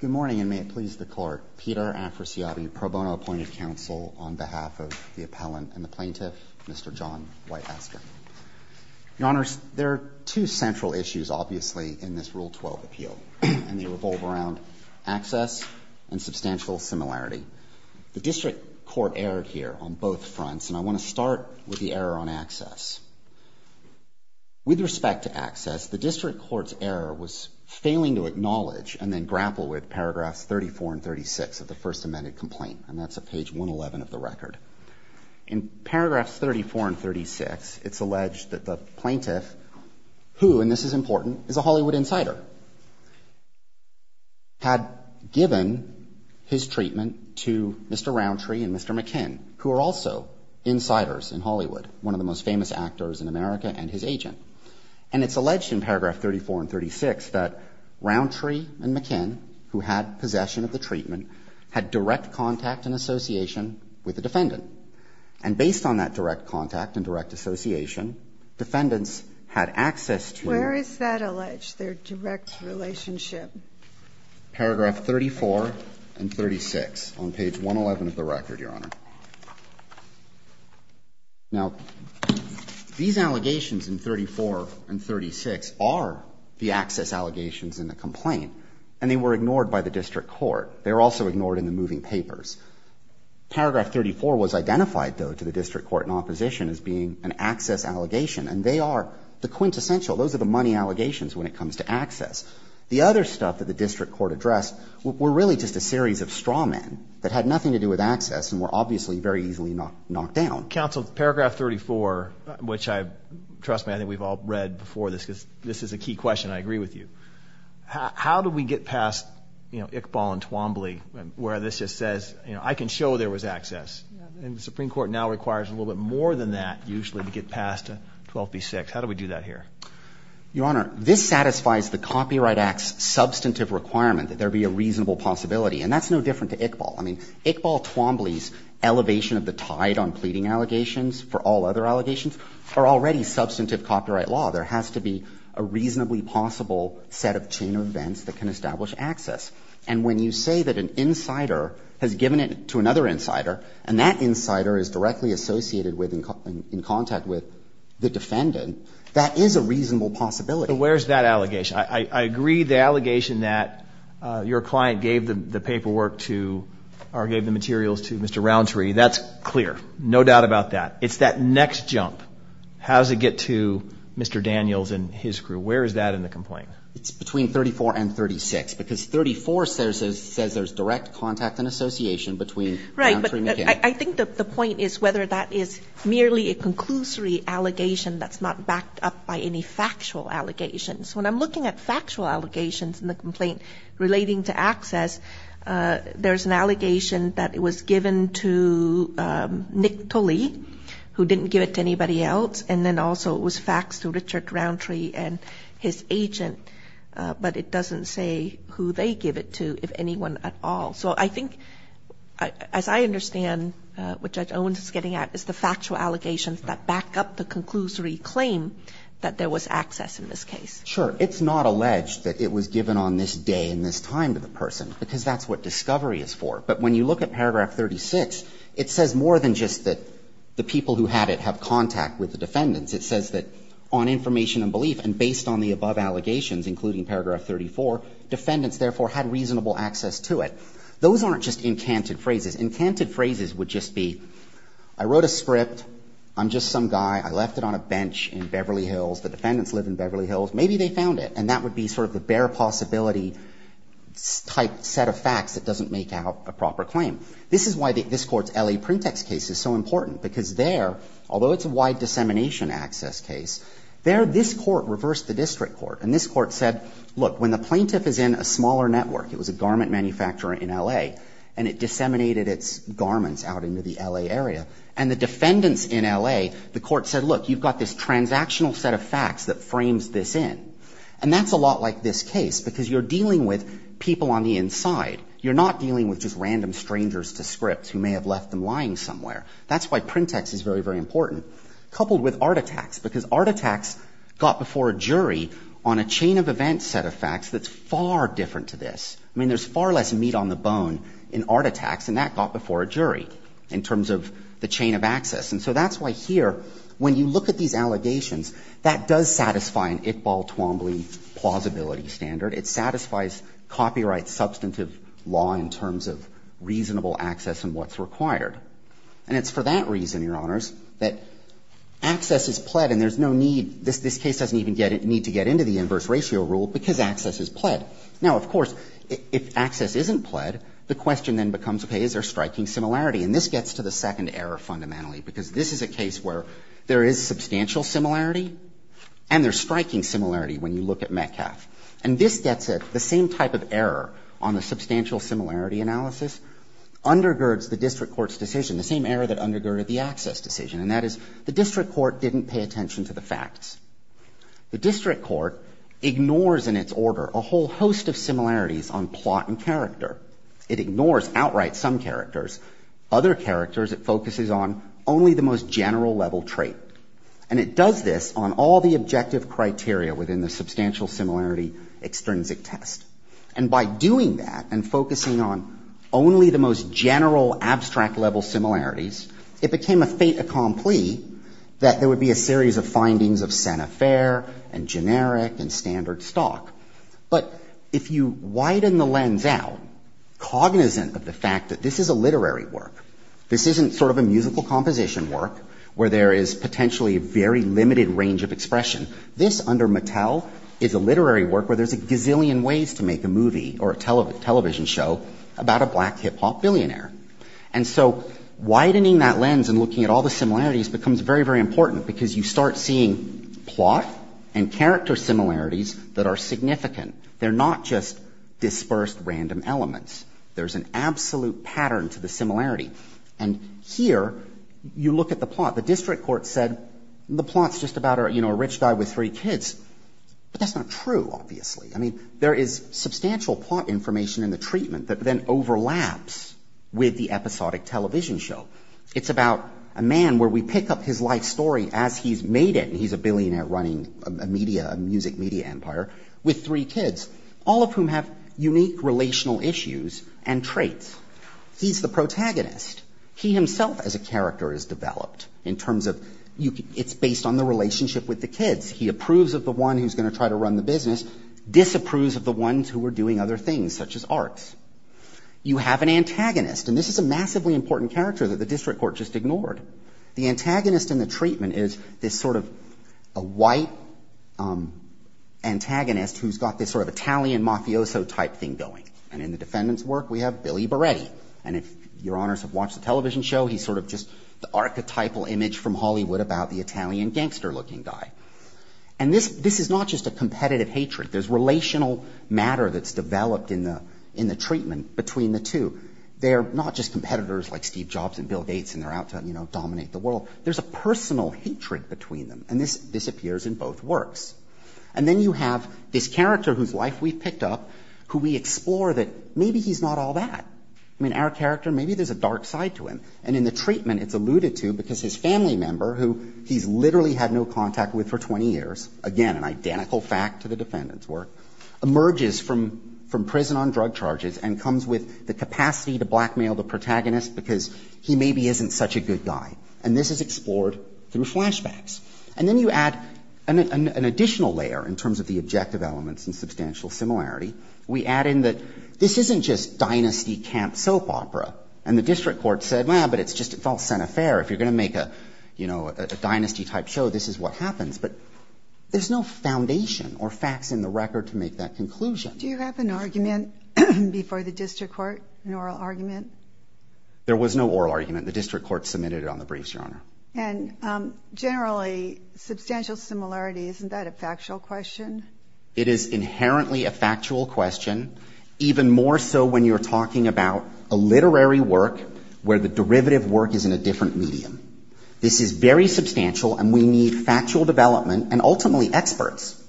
Good morning, and may it please the court, Peter Afrasiabi, pro bono appointed counsel on behalf of the appellant and the plaintiff, Mr. John White Astor. Your honors, there are two central issues, obviously, in this Rule 12 appeal, and they revolve around access and substantial similarity. The district court erred here on both fronts, and I want to start with the error on access. With respect to access, the district court's error was failing to acknowledge and then grapple with paragraphs 34 and 36 of the first amended complaint, and that's at page 111 of the record. In paragraphs 34 and 36, it's alleged that the plaintiff, who, and this is important, is a Hollywood insider, had given his treatment to Mr. Roundtree and Mr. McKinn, who are also insiders in Hollywood, one of the most famous actors in America and his agent. And it's alleged in paragraph 34 and 36 that Roundtree and McKinn, who had possession of the treatment, had direct contact and association with the defendant. And based on that direct contact and direct association, defendants had access to their. Where is that alleged, their direct relationship? Paragraph 34 and 36 on page 111 of the record, Your Honor. Now, these allegations in 34 and 36 are the access allegations in the complaint, and they were ignored by the district court. They were also ignored in the moving papers. Paragraph 34 was identified, though, to the district court in opposition as being an access allegation, and they are the quintessential. Those are the money allegations when it comes to access. The other stuff that the district court addressed that had nothing to do with access and were obviously not related to the complaint. Obviously, very easily knocked down. Counsel, paragraph 34, which trust me, I think we've all read before this, because this is a key question. I agree with you. How do we get past Iqbal and Twombly, where this just says, I can show there was access? And the Supreme Court now requires a little bit more than that, usually, to get past 12b-6. How do we do that here? Your Honor, this satisfies the Copyright Act's substantive requirement that there be a reasonable possibility. And that's no different to Iqbal. Iqbal Twombly's elevation of the tide on pleading allegations, for all other allegations, are already substantive copyright law. There has to be a reasonably possible set of chain of events that can establish access. And when you say that an insider has given it to another insider, and that insider is directly associated with and in contact with the defendant, that is a reasonable possibility. Where's that allegation? I agree the allegation that your client gave the paperwork to, or gave the materials to, Mr. Rountree, that's clear. No doubt about that. It's that next jump. How does it get to Mr. Daniels and his crew? Where is that in the complaint? It's between 34 and 36, because 34 says there's direct contact and association between Rountree and McGinn. I think the point is whether that is merely a conclusory allegation that's not backed up by any factual allegations. When I'm looking at factual allegations in the complaint relating to access, there's an allegation that it was given to Nick Tully, who didn't give it to anybody else. And then also it was faxed to Richard Rountree and his agent. But it doesn't say who they give it to, if anyone at all. So I think, as I understand, what Judge Owens is getting at is the factual allegations that back up the conclusory claim that there was access in this case. Sure. It's not alleged that it was given on this day and this time to the person, because that's what discovery is for. But when you look at paragraph 36, it says more than just that the people who had it have contact with the defendants. It says that on information and belief, and based on the above allegations, including paragraph 34, defendants, therefore, had reasonable access to it. Those aren't just encanted phrases. Encanted phrases would just be, I wrote a script. I'm just some guy. I left it on a bench in Beverly Hills. The defendants live in Beverly Hills. Maybe they found it. And that would be sort of the bare possibility type set of facts that doesn't make out a proper claim. This is why this Court's LA Printext case is so important, because there, although it's a wide dissemination access case, there this court reversed the district court. And this court said, look, when the plaintiff is in a smaller network, it was a garment manufacturer in LA, and it disseminated its garments out into the LA area. And the defendants in LA, the court said, look, you've got this transactional set of facts that frames this in. And that's a lot like this case, because you're dealing with people on the inside. You're not dealing with just random strangers to scripts who may have left them lying somewhere. That's why Printext is very, very important, coupled with Art Attacks, because Art Attacks got before a jury on a chain of events set of facts that's far different to this. I mean, there's far less meat on the bone in Art Attacks, and that got before a jury in terms of the chain of access. And so that's why here, when you look at these allegations, that does satisfy an Iqbal Twombly plausibility standard. It satisfies copyright substantive law in terms of reasonable access and what's required. And it's for that reason, Your Honors, that access is pled, and there's no need, this case doesn't even need to get into the inverse ratio rule, because access is pled. Now, of course, if access isn't pled, the question then becomes, okay, is there striking similarity? And this gets to the second error, fundamentally, because this is a case where there is substantial similarity and there's striking similarity when you look at Metcalf. And this gets at the same type of error on the substantial similarity analysis, undergirds the district court's decision, the same error that undergirded the access decision, and that is the district court didn't pay attention to the facts. The district court ignores, in its order, a whole host of similarities on plot and character. It ignores outright some characters. Other characters, it focuses on only the most general-level trait. And it does this on all the objective criteria within the substantial similarity extrinsic test. And by doing that and focusing on only the most general, abstract-level similarities, it became a fait accompli that there would be a series of findings of Senefaire and generic and standard stock. But if you widen the lens out, it's cognizant of the fact that this is a literary work. This isn't sort of a musical composition work where there is potentially a very limited range of expression. This, under Mattel, is a literary work where there's a gazillion ways to make a movie or a television show about a black hip-hop billionaire. And so widening that lens and looking at all the similarities becomes very, very important because you start seeing plot and character similarities that are significant. They're not just dispersed random elements. There's an absolute pattern to the similarity. And here, you look at the plot. The district court said the plot's just about a rich guy with three kids. But that's not true, obviously. I mean, there is substantial plot information in the treatment that then overlaps with the episodic television show. It's about a man where we pick up his life story as he's made it, and he's a billionaire running a music media empire with three kids, all of whom have unique relational issues and traits. He's the protagonist. He himself, as a character, is developed in terms of it's based on the relationship with the kids. He approves of the one who's gonna try to run the business, disapproves of the ones who are doing other things, such as arts. You have an antagonist, and this is a massively important character that the district court just ignored. The antagonist in the treatment is this sort of a white antagonist who's got this sort of Italian mafioso type thing going. And in the defendant's work, we have Billy Beretti. And if your honors have watched the television show, he's sort of just the archetypal image from Hollywood about the Italian gangster-looking guy. And this is not just a competitive hatred. There's relational matter that's developed in the treatment between the two. They're not just competitors like Steve Jobs and Bill Gates, and they're out to dominate the world. There's a personal hatred between them, and this disappears in both works. And then you have this character whose life we've picked up who we explore that maybe he's not all that. I mean, our character, maybe there's a dark side to him. And in the treatment, it's alluded to because his family member, who he's literally had no contact with for 20 years, again, an identical fact to the defendant's work, emerges from prison on drug charges and comes with the capacity to blackmail the protagonist because he maybe isn't such a good guy. And this is explored through flashbacks. And then you add an additional layer in terms of the objective elements and substantial similarity. We add in that this isn't just dynasty camp soap opera. And the district court said, well, but it's just a false center fair. If you're gonna make a dynasty-type show, this is what happens. But there's no foundation or facts in the record to make that conclusion. Do you have an argument before the district court, an oral argument? There was no oral argument. The district court submitted it on the briefs, Your Honor. And generally, substantial similarity, isn't that a factual question? It is inherently a factual question, even more so when you're talking about a literary work where the derivative work is in a different medium. This is very substantial and we need factual development and ultimately experts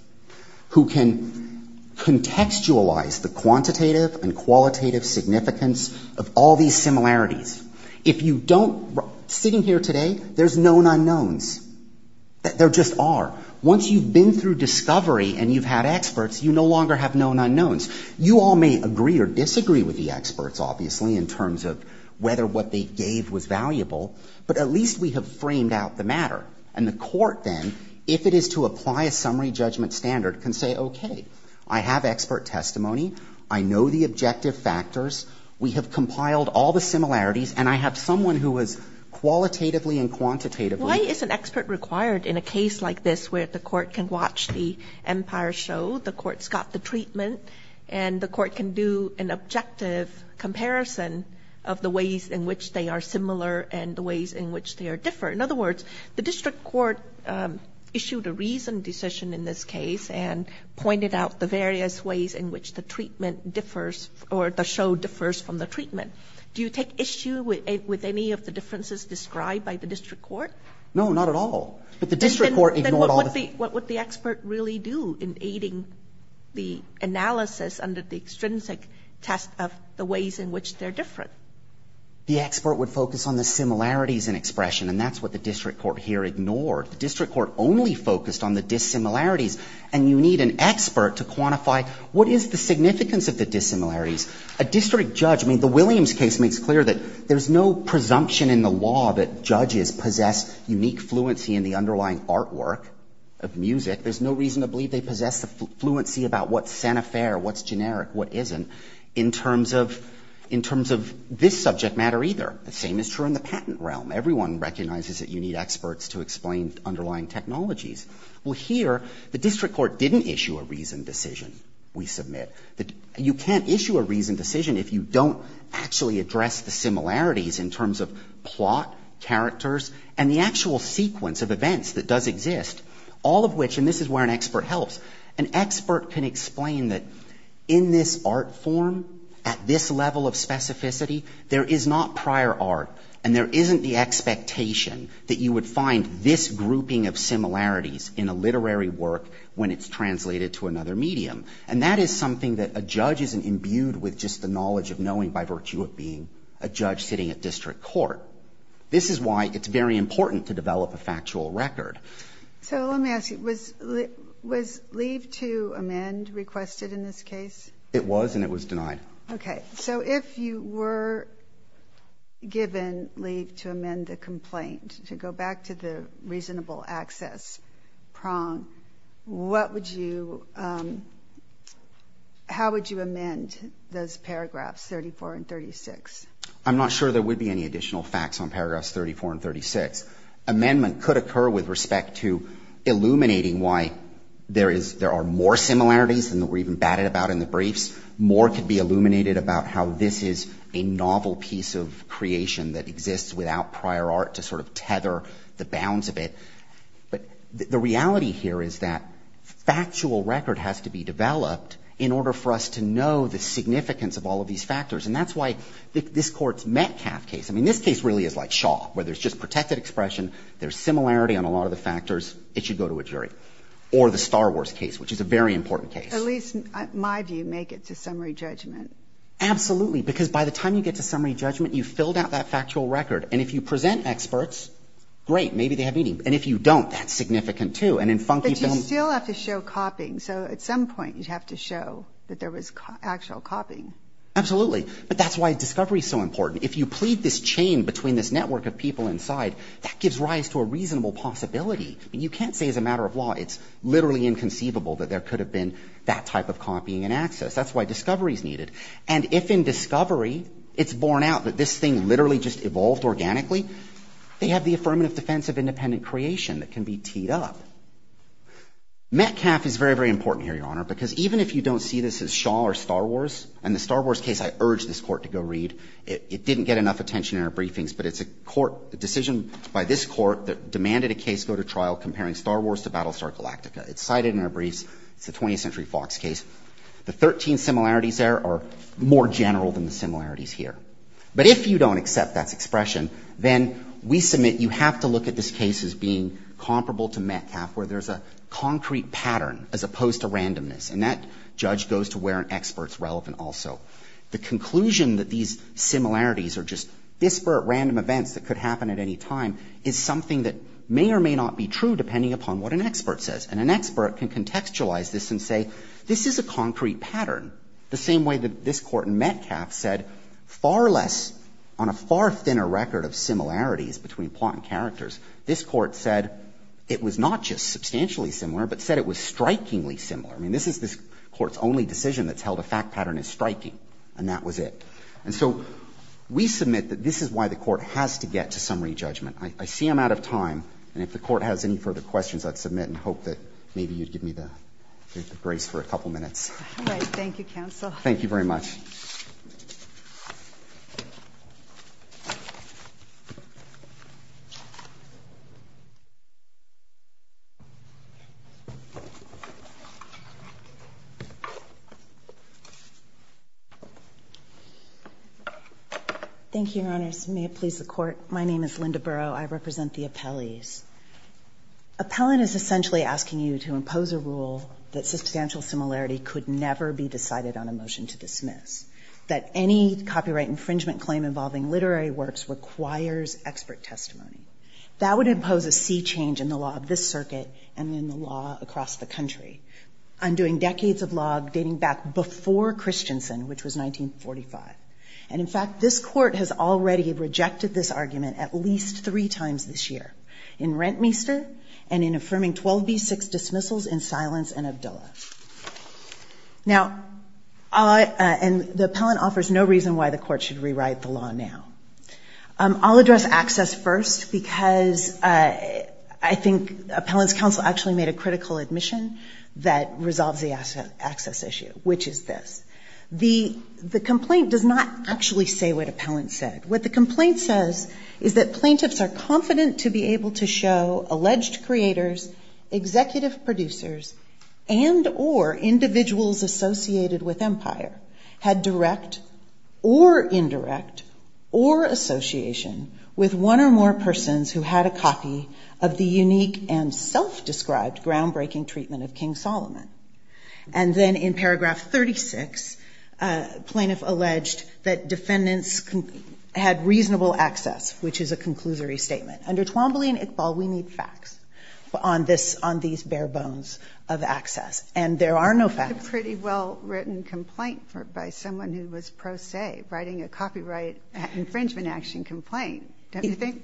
who can contextualize the quantitative and qualitative significance of all these similarities. If you don't, sitting here today, there's known unknowns, there just are. Once you've been through discovery and you've had experts, you no longer have known unknowns. You all may agree or disagree with the experts, obviously, in terms of whether what they gave was valuable, but at least we have framed out the matter. And the court then, if it is to apply a summary judgment standard, can say, okay, I have expert testimony. I know the objective factors. We have compiled all the similarities and I have someone who was qualitatively and quantitatively. Why is an expert required in a case like this where the court can watch the empire show, the court's got the treatment, and the court can do an objective comparison of the ways in which they are similar and the ways in which they are different. In other words, the district court issued a reasoned decision in this case and pointed out the various ways in which the treatment differs or the show differs from the treatment. Do you take issue with any of the differences described by the district court? No, not at all. But the district court ignored all the- What would the expert really do in aiding the analysis under the extrinsic test of the ways in which they're different? The expert would focus on the similarities in expression and that's what the district court here ignored. The district court only focused on the dissimilarities and you need an expert to quantify what is the significance of the dissimilarities. A district judge, I mean, the Williams case makes clear that there's no presumption in the law that judges possess unique fluency in the underlying artwork of music. There's no reason to believe they possess the fluency about what's Santa Fe or what's generic, what isn't, in terms of this subject matter either. The same is true in the patent realm. Everyone recognizes that you need experts to explain underlying technologies. Well, here, the district court didn't issue a reasoned decision, we submit. You can't issue a reasoned decision if you don't actually address the similarities in terms of plot, characters, and the actual sequence of events that does exist, all of which, and this is where an expert helps, an expert can explain that in this art form, at this level of specificity, there is not prior art and there isn't the expectation that you would find this grouping of similarities in a literary work when it's translated to another medium. And that is something that a judge isn't imbued with just the knowledge of knowing by virtue of being a judge sitting at district court. This is why it's very important to develop a factual record. So let me ask you, was leave to amend requested in this case? It was and it was denied. Okay, so if you were given leave to amend the complaint, to go back to the reasonable access prong, what would you, how would you amend those paragraphs 34 and 36? I'm not sure there would be any additional facts on paragraphs 34 and 36. Amendment could occur with respect to illuminating why there are more similarities than that we're even batted about in the briefs. More could be illuminated about how this is a novel piece of creation that exists without prior art to sort of tether the bounds of it. But the reality here is that factual record has to be developed in order for us to know the significance of all of these factors. And that's why this court's Metcalfe case, I mean, this case really is like Shaw, where there's just protected expression, there's similarity on a lot of the factors, it should go to a jury. Or the Star Wars case, which is a very important case. At least my view, make it to summary judgment. Absolutely, because by the time you get to summary judgment, you've filled out that factual record. And if you present experts, great, maybe they have meaning. And if you don't, that's significant too. And in funky films- But you still have to show copying. So at some point, you'd have to show that there was actual copying. Absolutely, but that's why discovery is so important. If you plead this chain between this network of people inside, that gives rise to a reasonable possibility. And you can't say as a matter of law, it's literally inconceivable that there could have been that type of copying and access. That's why discovery is needed. And if in discovery, it's borne out that this thing literally just evolved organically, they have the affirmative defense of independent creation that can be teed up. Metcalfe is very, very important here, Your Honor, because even if you don't see this as Shaw or Star Wars, and the Star Wars case, I urge this court to go read. It didn't get enough attention in our briefings, but it's a court, a decision by this court that demanded a case go to trial comparing Star Wars to Battlestar Galactica. It's cited in our briefs. It's a 20th century Fox case. The 13 similarities there are more general than the similarities here. But if you don't accept that expression, then we submit you have to look at this case as being comparable to Metcalfe, where there's a concrete pattern as opposed to randomness. And that judge goes to where an expert's relevant also. The conclusion that these similarities are just disparate random events that could happen at any time is something that may or may not be true depending upon what an expert says. And an expert can contextualize this and say, this is a concrete pattern. The same way that this court in Metcalfe said, far less, on a far thinner record of similarities between plot and characters, this court said it was not just substantially similar, but said it was strikingly similar. I mean, this is this court's only decision that's held a fact pattern as striking. And that was it. And so we submit that this is why the court has to get to summary judgment. I see I'm out of time. And if the court has any further questions, I'd submit and hope that maybe you'd give me the grace for a couple minutes. All right, thank you, counsel. Thank you very much. Thank you. Thank you, Your Honors. May it please the court. My name is Linda Burrow. I represent the appellees. Appellant is essentially asking you to impose a rule that substantial similarity could never be decided on a motion to dismiss. That any copyright infringement claim involving literary works requires expert testimony. That would impose a sea change in the law of this circuit and in the law across the country, undoing decades of law dating back before Christensen, which was 1945. And in fact, this court has already rejected this argument at least three times this year, in Rentmeester and in affirming 12b-6 dismissals in Silence and Abdullah. Now, and the appellant offers no reason why the court should rewrite the law now. I'll address access first, because I think appellant's counsel actually made a critical admission that resolves the access issue, which is this. The complaint does not actually say what appellant said. What the complaint says is that plaintiffs are confident to be able to show alleged creators, executive producers, and or individuals associated with Empire had direct or indirect or association with one or more persons who had a copy of the unique and self-described groundbreaking treatment of King Solomon. And then in paragraph 36, plaintiff alleged that defendants had reasonable access, which is a conclusory statement. Under Twombly and Iqbal, we need facts. On this, on these bare bones of access. And there are no facts. A pretty well written complaint by someone who was pro se, writing a copyright infringement action complaint. Don't you think?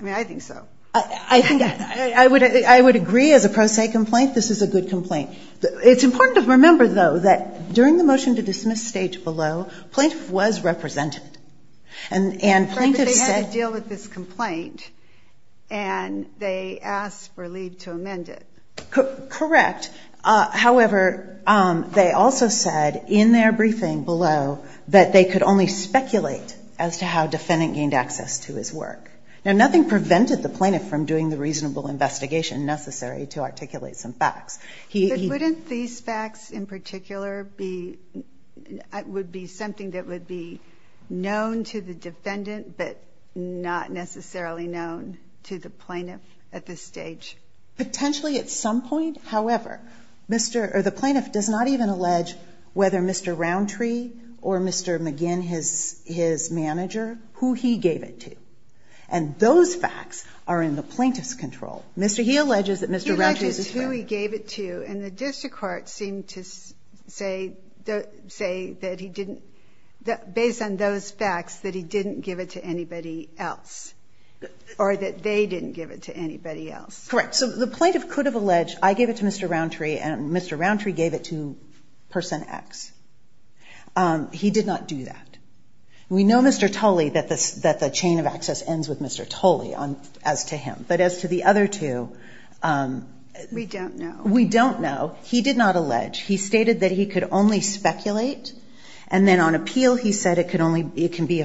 I mean, I think so. I think I would agree as a pro se complaint, this is a good complaint. It's important to remember though, that during the motion to dismiss stage below, plaintiff was represented. And plaintiff said- But they had to deal with this complaint. And they asked for leave to amend it. Correct. However, they also said in their briefing below, that they could only speculate as to how defendant gained access to his work. Now, nothing prevented the plaintiff from doing the reasonable investigation necessary to articulate some facts. He- But wouldn't these facts in particular would be something that would be known to the defendant, but not necessarily known to the plaintiff at this stage? Potentially at some point. However, the plaintiff does not even allege whether Mr. Roundtree or Mr. McGinn, his manager, who he gave it to. And those facts are in the plaintiff's control. Mr. He alleges that Mr. Roundtree is his friend. He alleges who he gave it to. And the district court seemed to say that he didn't, based on those facts, that he didn't give it to anybody else or that they didn't give it to anybody else. Correct. So the plaintiff could have alleged, I gave it to Mr. Roundtree and Mr. Roundtree gave it to person X. He did not do that. We know, Mr. Tully, that the chain of access ends with Mr. Tully as to him. But as to the other two- We don't know. We don't know. He did not allege. He stated that he could only speculate and then on appeal, he said it can be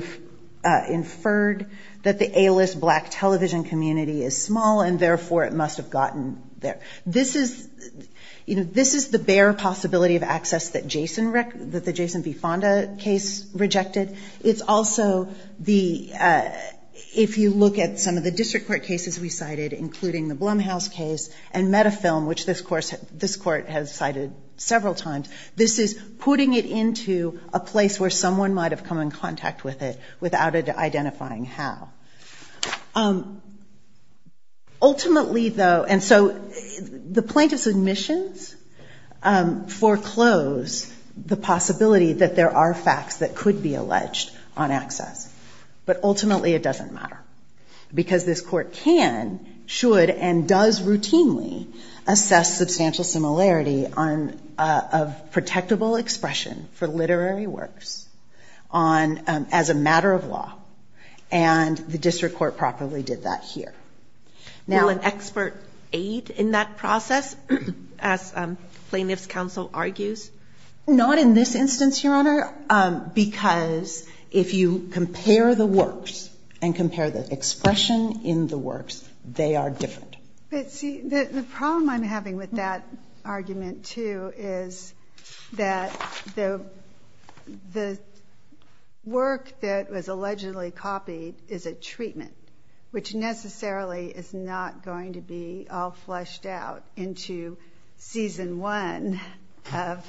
inferred that the A-list black television community is small and therefore it must have gotten there. This is the bare possibility of access that the Jason V. Fonda case rejected. It's also the, if you look at some of the district court cases we cited, including the Blumhouse case and Metafilm, which this court has cited several times, this is putting it into a place where someone might have come in contact with it without it identifying how. Ultimately though, and so the plaintiff's admissions foreclose the possibility that there are facts that could be alleged on access. But ultimately it doesn't matter because this court can, should, and does routinely assess substantial similarity of protectable expression for literary works as a matter of law. And the district court properly did that here. Now- Will an expert aid in that process, as plaintiff's counsel argues? Not in this instance, Your Honor, because if you compare the works and compare the expression in the works, they are different. But see, the problem I'm having with that argument too is that the work that was allegedly copied is a treatment, which necessarily is not going to be all fleshed out into season one of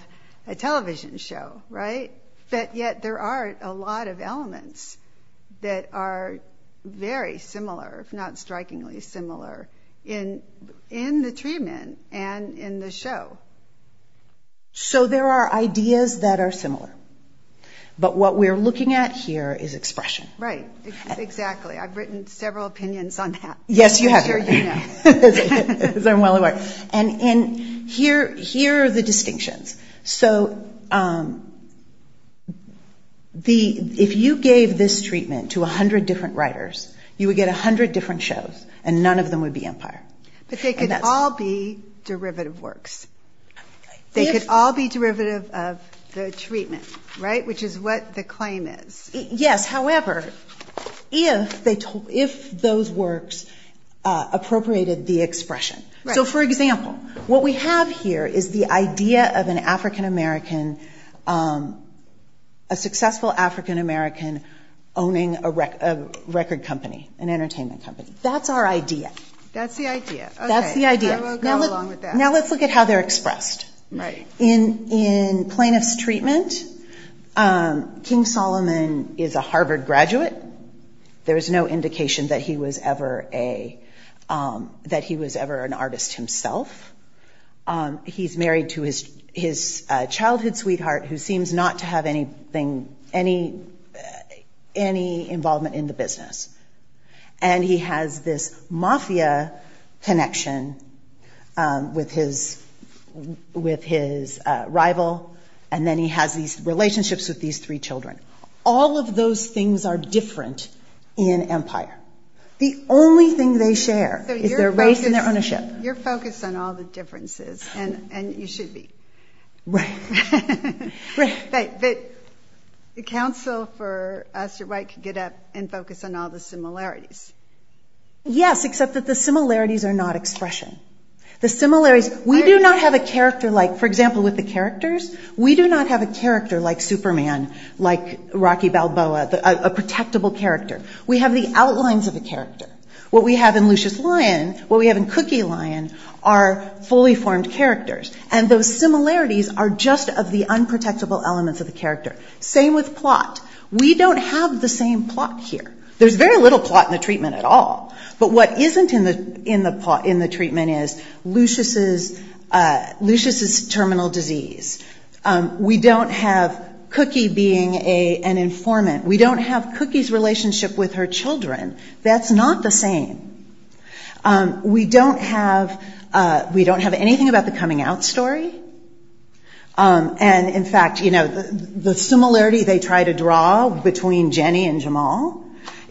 a television show, right? But yet there are a lot of elements that are very similar, if not strikingly similar in the treatment and in the show. So there are ideas that are similar, but what we're looking at here is expression. Right, exactly. I've written several opinions on that. Yes, you have. I'm sure you know. As I'm well aware. And here are the distinctions. So if you gave this treatment to 100 different writers, you would get 100 different shows and none of them would be Empire. But they could all be derivative works. They could all be derivative of the treatment, right? Which is what the claim is. Yes, however, if those works appropriated the expression. So for example, what we have here is the idea of a successful African-American owning a record company, an entertainment company. That's our idea. That's the idea. Okay, I will go along with that. Now let's look at how they're expressed. Right. In Plaintiff's Treatment, King Solomon is a Harvard graduate. There is no indication that he was ever an artist himself. He's married to his childhood sweetheart who seems not to have any involvement in the business. And he has this mafia connection with his rival. And then he has these relationships with these three children. All of those things are different in Empire. The only thing they share is their race and their ownership. You're focused on all the differences and you should be. Right. Right, but the counsel for us, you're right to get up and focus on all the similarities. Yes, except that the similarities are not expression. The similarities, we do not have a character like, for example, with the characters, we do not have a character like Superman, like Rocky Balboa, a protectable character. We have the outlines of the character. What we have in Lucius Lion, what we have in Cookie Lion are fully formed characters. And those similarities are just of the unprotectable elements of the character. Same with plot. We don't have the same plot here. There's very little plot in the Treatment at all. But what isn't in the Treatment is Lucius's terminal disease. We don't have Cookie being an informant. We don't have Cookie's relationship with her children. That's not the same. We don't have anything about the coming out story. And in fact, the similarity they try to draw between Jenny and Jamal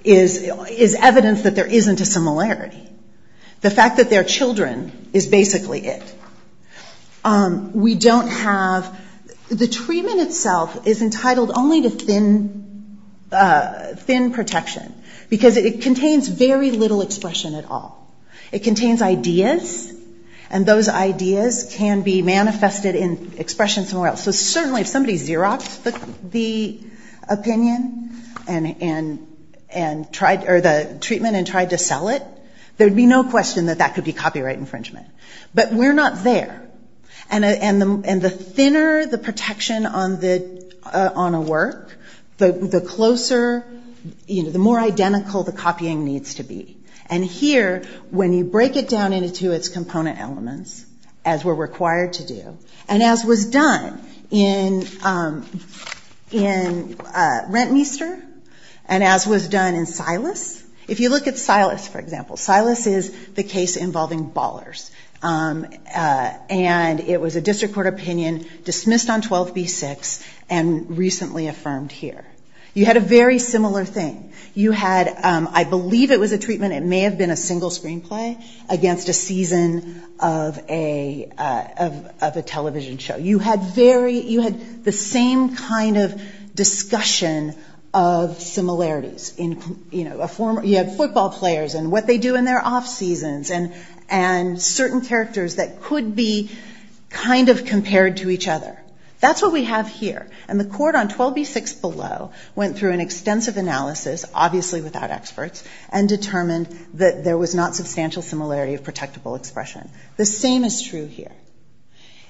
is evidence that there isn't a similarity. The fact that they're children is basically it. We don't have, the Treatment itself is entitled only to thin protection because it contains very little expression at all. It contains ideas, and those ideas can be manifested in expression somewhere else. So certainly if somebody Xeroxed the opinion or the Treatment and tried to sell it, there'd be no question that that could be copyright infringement. But we're not there. And the thinner the protection on a work, the closer, the more identical the copying needs to be. And here, when you break it down into its component elements, as we're required to do, and as was done in Rentmeester, and as was done in Silas. If you look at Silas, for example, Silas is the case involving ballers. And it was a district court opinion, dismissed on 12b-6, and recently affirmed here. You had a very similar thing. You had, I believe it was a Treatment, it may have been a single screenplay against a season of a television show. You had the same kind of discussion of similarities. You had football players and what they do in their off seasons, and certain characters that could be kind of compared to each other. That's what we have here. And the court on 12b-6 below went through an extensive analysis, obviously without experts, and determined that there was not substantial similarity of protectable expression. The same is true here.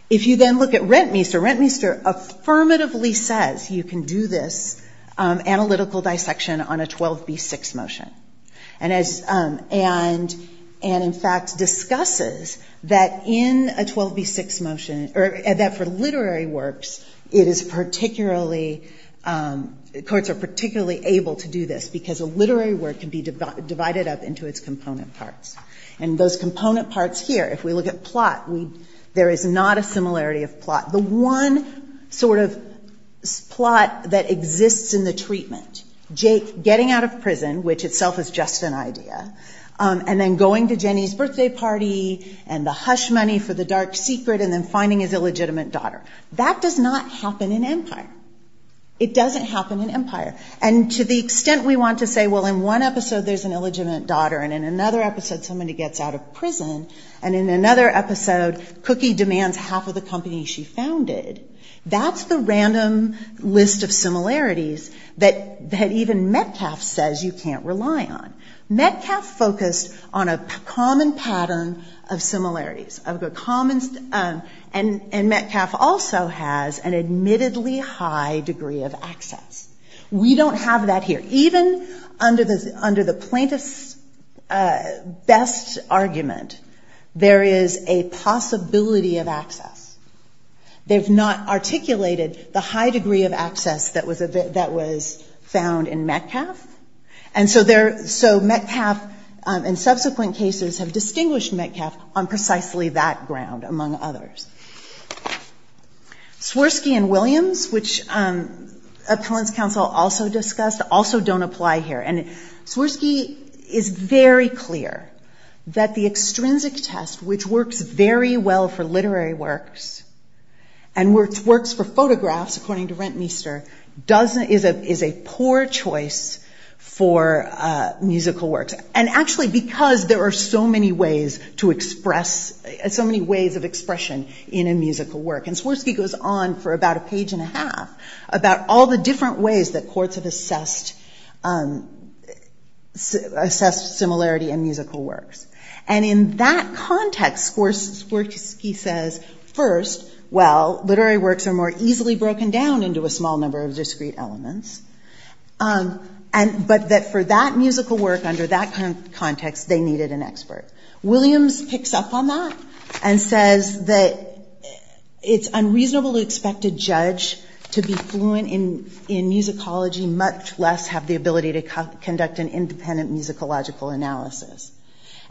If you then look at Rentmeester, Rentmeester affirmatively says you can do this analytical dissection on a 12b-6 motion. And in fact discusses that in a 12b-6 motion, or that for literary works, it is particularly, courts are particularly able to do this because a literary work can be divided up into its component parts. And those component parts here, if we look at plot, there is not a similarity of plot. The one sort of plot that exists in the Treatment, Jake getting out of prison, which itself is just an idea, and then going to Jenny's birthday party, and the hush money for the dark secret, and then finding his illegitimate daughter. That does not happen in Empire. It doesn't happen in Empire. And to the extent we want to say, well in one episode there's an illegitimate daughter, and in another episode somebody gets out of prison, and in another episode, Cookie demands half of the company she founded. That's the random list of similarities that even Metcalfe says you can't rely on. Metcalfe focused on a common pattern of similarities. And Metcalfe also has an admittedly high degree of access. We don't have that here. Even under the plaintiff's best argument, there is a possibility of access. They've not articulated the high degree of access that was found in Metcalfe. And so Metcalfe, in subsequent cases, have distinguished Metcalfe on precisely that ground, among others. Swirsky and Williams, which Appellant's Counsel also discussed, also don't apply here. And Swirsky is very clear that the extrinsic test, which works very well for literary works, and works for photographs, according to Rentmeester, is a poor choice for musical works. And actually, because there are so many ways to express, so many ways of expression in a musical work. And Swirsky goes on for about a page and a half about all the different ways that courts have assessed similarity in musical works. And in that context, Swirsky says, first, well, literary works are more easily broken down into a small number of discrete elements. But that for that musical work, under that context, they needed an expert. Williams picks up on that and says that it's unreasonable to expect a judge to be fluent in musicology, much less have the ability to conduct an independent musicological analysis.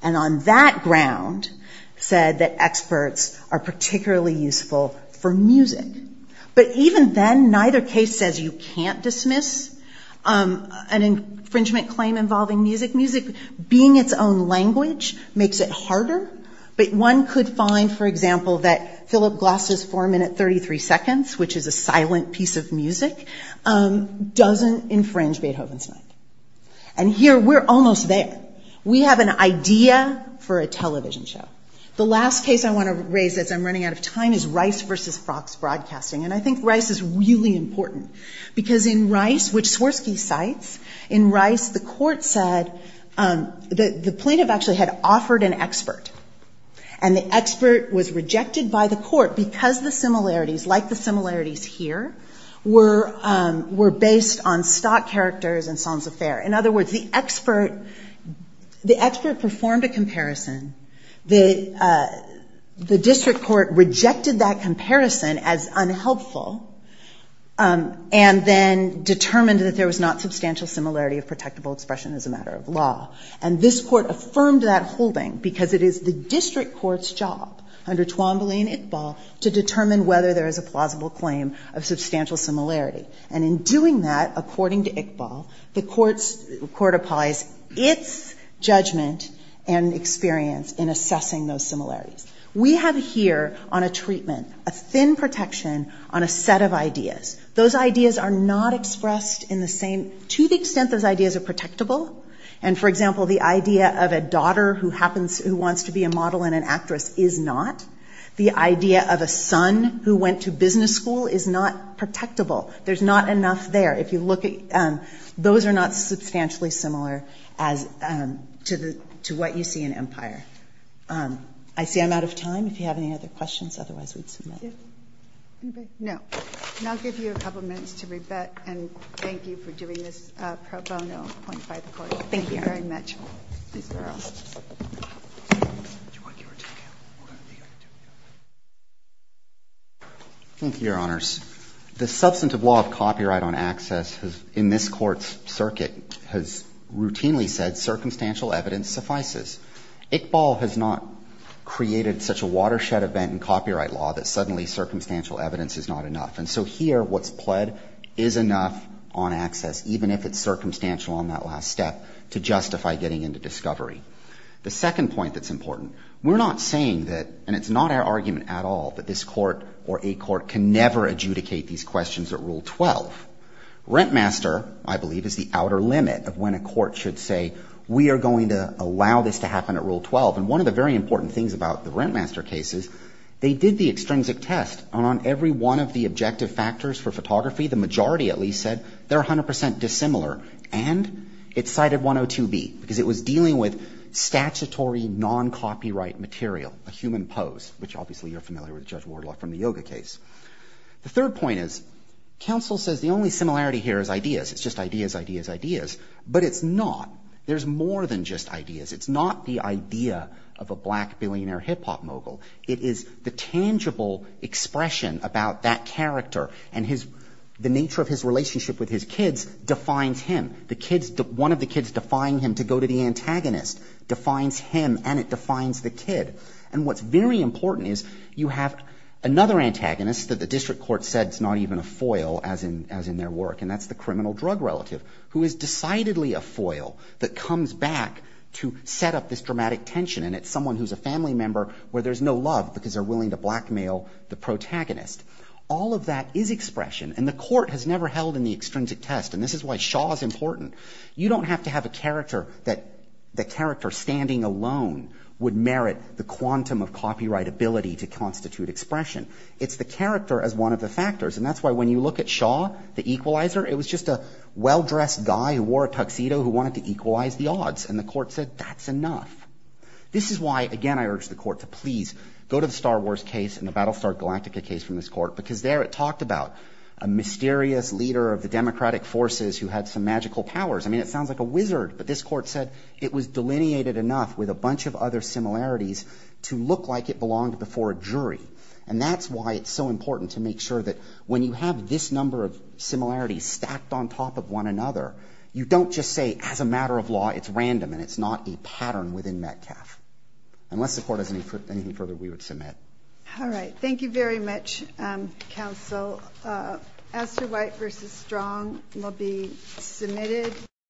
And on that ground, said that experts are particularly useful for music. But even then, neither case says you can't dismiss an infringement claim involving music. Music, being its own language, makes it harder. But one could find, for example, that Philip Glass's four minute 33 seconds, which is a silent piece of music, doesn't infringe Beethoven's night. And here, we're almost there. We have an idea for a television show. The last case I want to raise, as I'm running out of time, is Rice versus Fox Broadcasting. And I think Rice is really important. Because in Rice, which Swirsky cites, in Rice, the court said that the plaintiff actually had offered an expert. And the expert was rejected by the court because the similarities, like the similarities here, were based on stock characters and sans affair. In other words, the expert performed a comparison. The district court rejected that comparison as unhelpful. And then determined that there was not substantial similarity of protectable expression as a matter of law. And this court affirmed that holding because it is the district court's job, under Twombly and Iqbal, to determine whether there is a plausible claim of substantial similarity. And in doing that, according to Iqbal, the court applies its judgment and experience in assessing those similarities. We have here, on a treatment, a thin protection on a set of ideas. Those ideas are not expressed in the same, to the extent those ideas are protectable. And for example, the idea of a daughter who wants to be a model and an actress is not. The idea of a son who went to business school is not protectable. There's not enough there. If you look at, those are not substantially similar as to what you see in Empire. I see I'm out of time. If you have any other questions, otherwise we'd submit. No. And I'll give you a couple of minutes to rebut and thank you for doing this pro bono point by the court. Thank you very much. Thank you, your honors. The substantive law of copyright on access in this court's circuit has routinely said circumstantial evidence suffices. Iqbal has not created such a watershed event in copyright law that suddenly circumstantial evidence is not enough. And so here, what's pled is enough on access, even if it's circumstantial on that last step to justify getting into discovery. The second point that's important, we're not saying that, and it's not our argument at all, that this court or a court can never adjudicate these questions at Rule 12. Rentmaster, I believe, is the outer limit of when a court should say, we are going to allow this to happen at Rule 12. And one of the very important things about the Rentmaster cases, they did the extrinsic test on every one of the objective factors for photography. The majority at least said they're 100% dissimilar. And it cited 102B because it was dealing with statutory non-copyright material, a human pose, which obviously you're familiar with Judge Wardlock from the Yoga case. The third point is, counsel says the only similarity here is ideas, it's just ideas, ideas, ideas, but it's not. There's more than just ideas. It's not the idea of a black billionaire hip hop mogul. It is the tangible expression about that character and the nature of his relationship with his kids defines him, one of the kids defying him to go to the antagonist defines him and it defines the kid. And what's very important is you have another antagonist that the district court said it's not even a foil as in their work and that's the criminal drug relative who is decidedly a foil that comes back to set up this dramatic tension. And it's someone who's a family member where there's no love because they're willing to blackmail the protagonist. All of that is expression and the court has never held in the extrinsic test and this is why Shaw is important. You don't have to have a character that the character standing alone would merit the quantum of copyright ability to constitute expression. It's the character as one of the factors and that's why when you look at Shaw, the equalizer, it was just a well-dressed guy who wore a tuxedo who wanted to equalize the odds and the court said that's enough. This is why, again, I urge the court to please go to the Star Wars case and the Battlestar Galactica case from this court because there it talked about a mysterious leader of the democratic forces who had some magical powers. I mean, it sounds like a wizard, but this court said it was delineated enough with a bunch of other similarities to look like it belonged before a jury and that's why it's so important to make sure that when you have this number of similarities stacked on top of one another, you don't just say as a matter of law, it's random and it's not a pattern within Metcalf unless the court has anything further we would submit. All right, thank you very much, counsel. Astor White versus Strong will be submitted.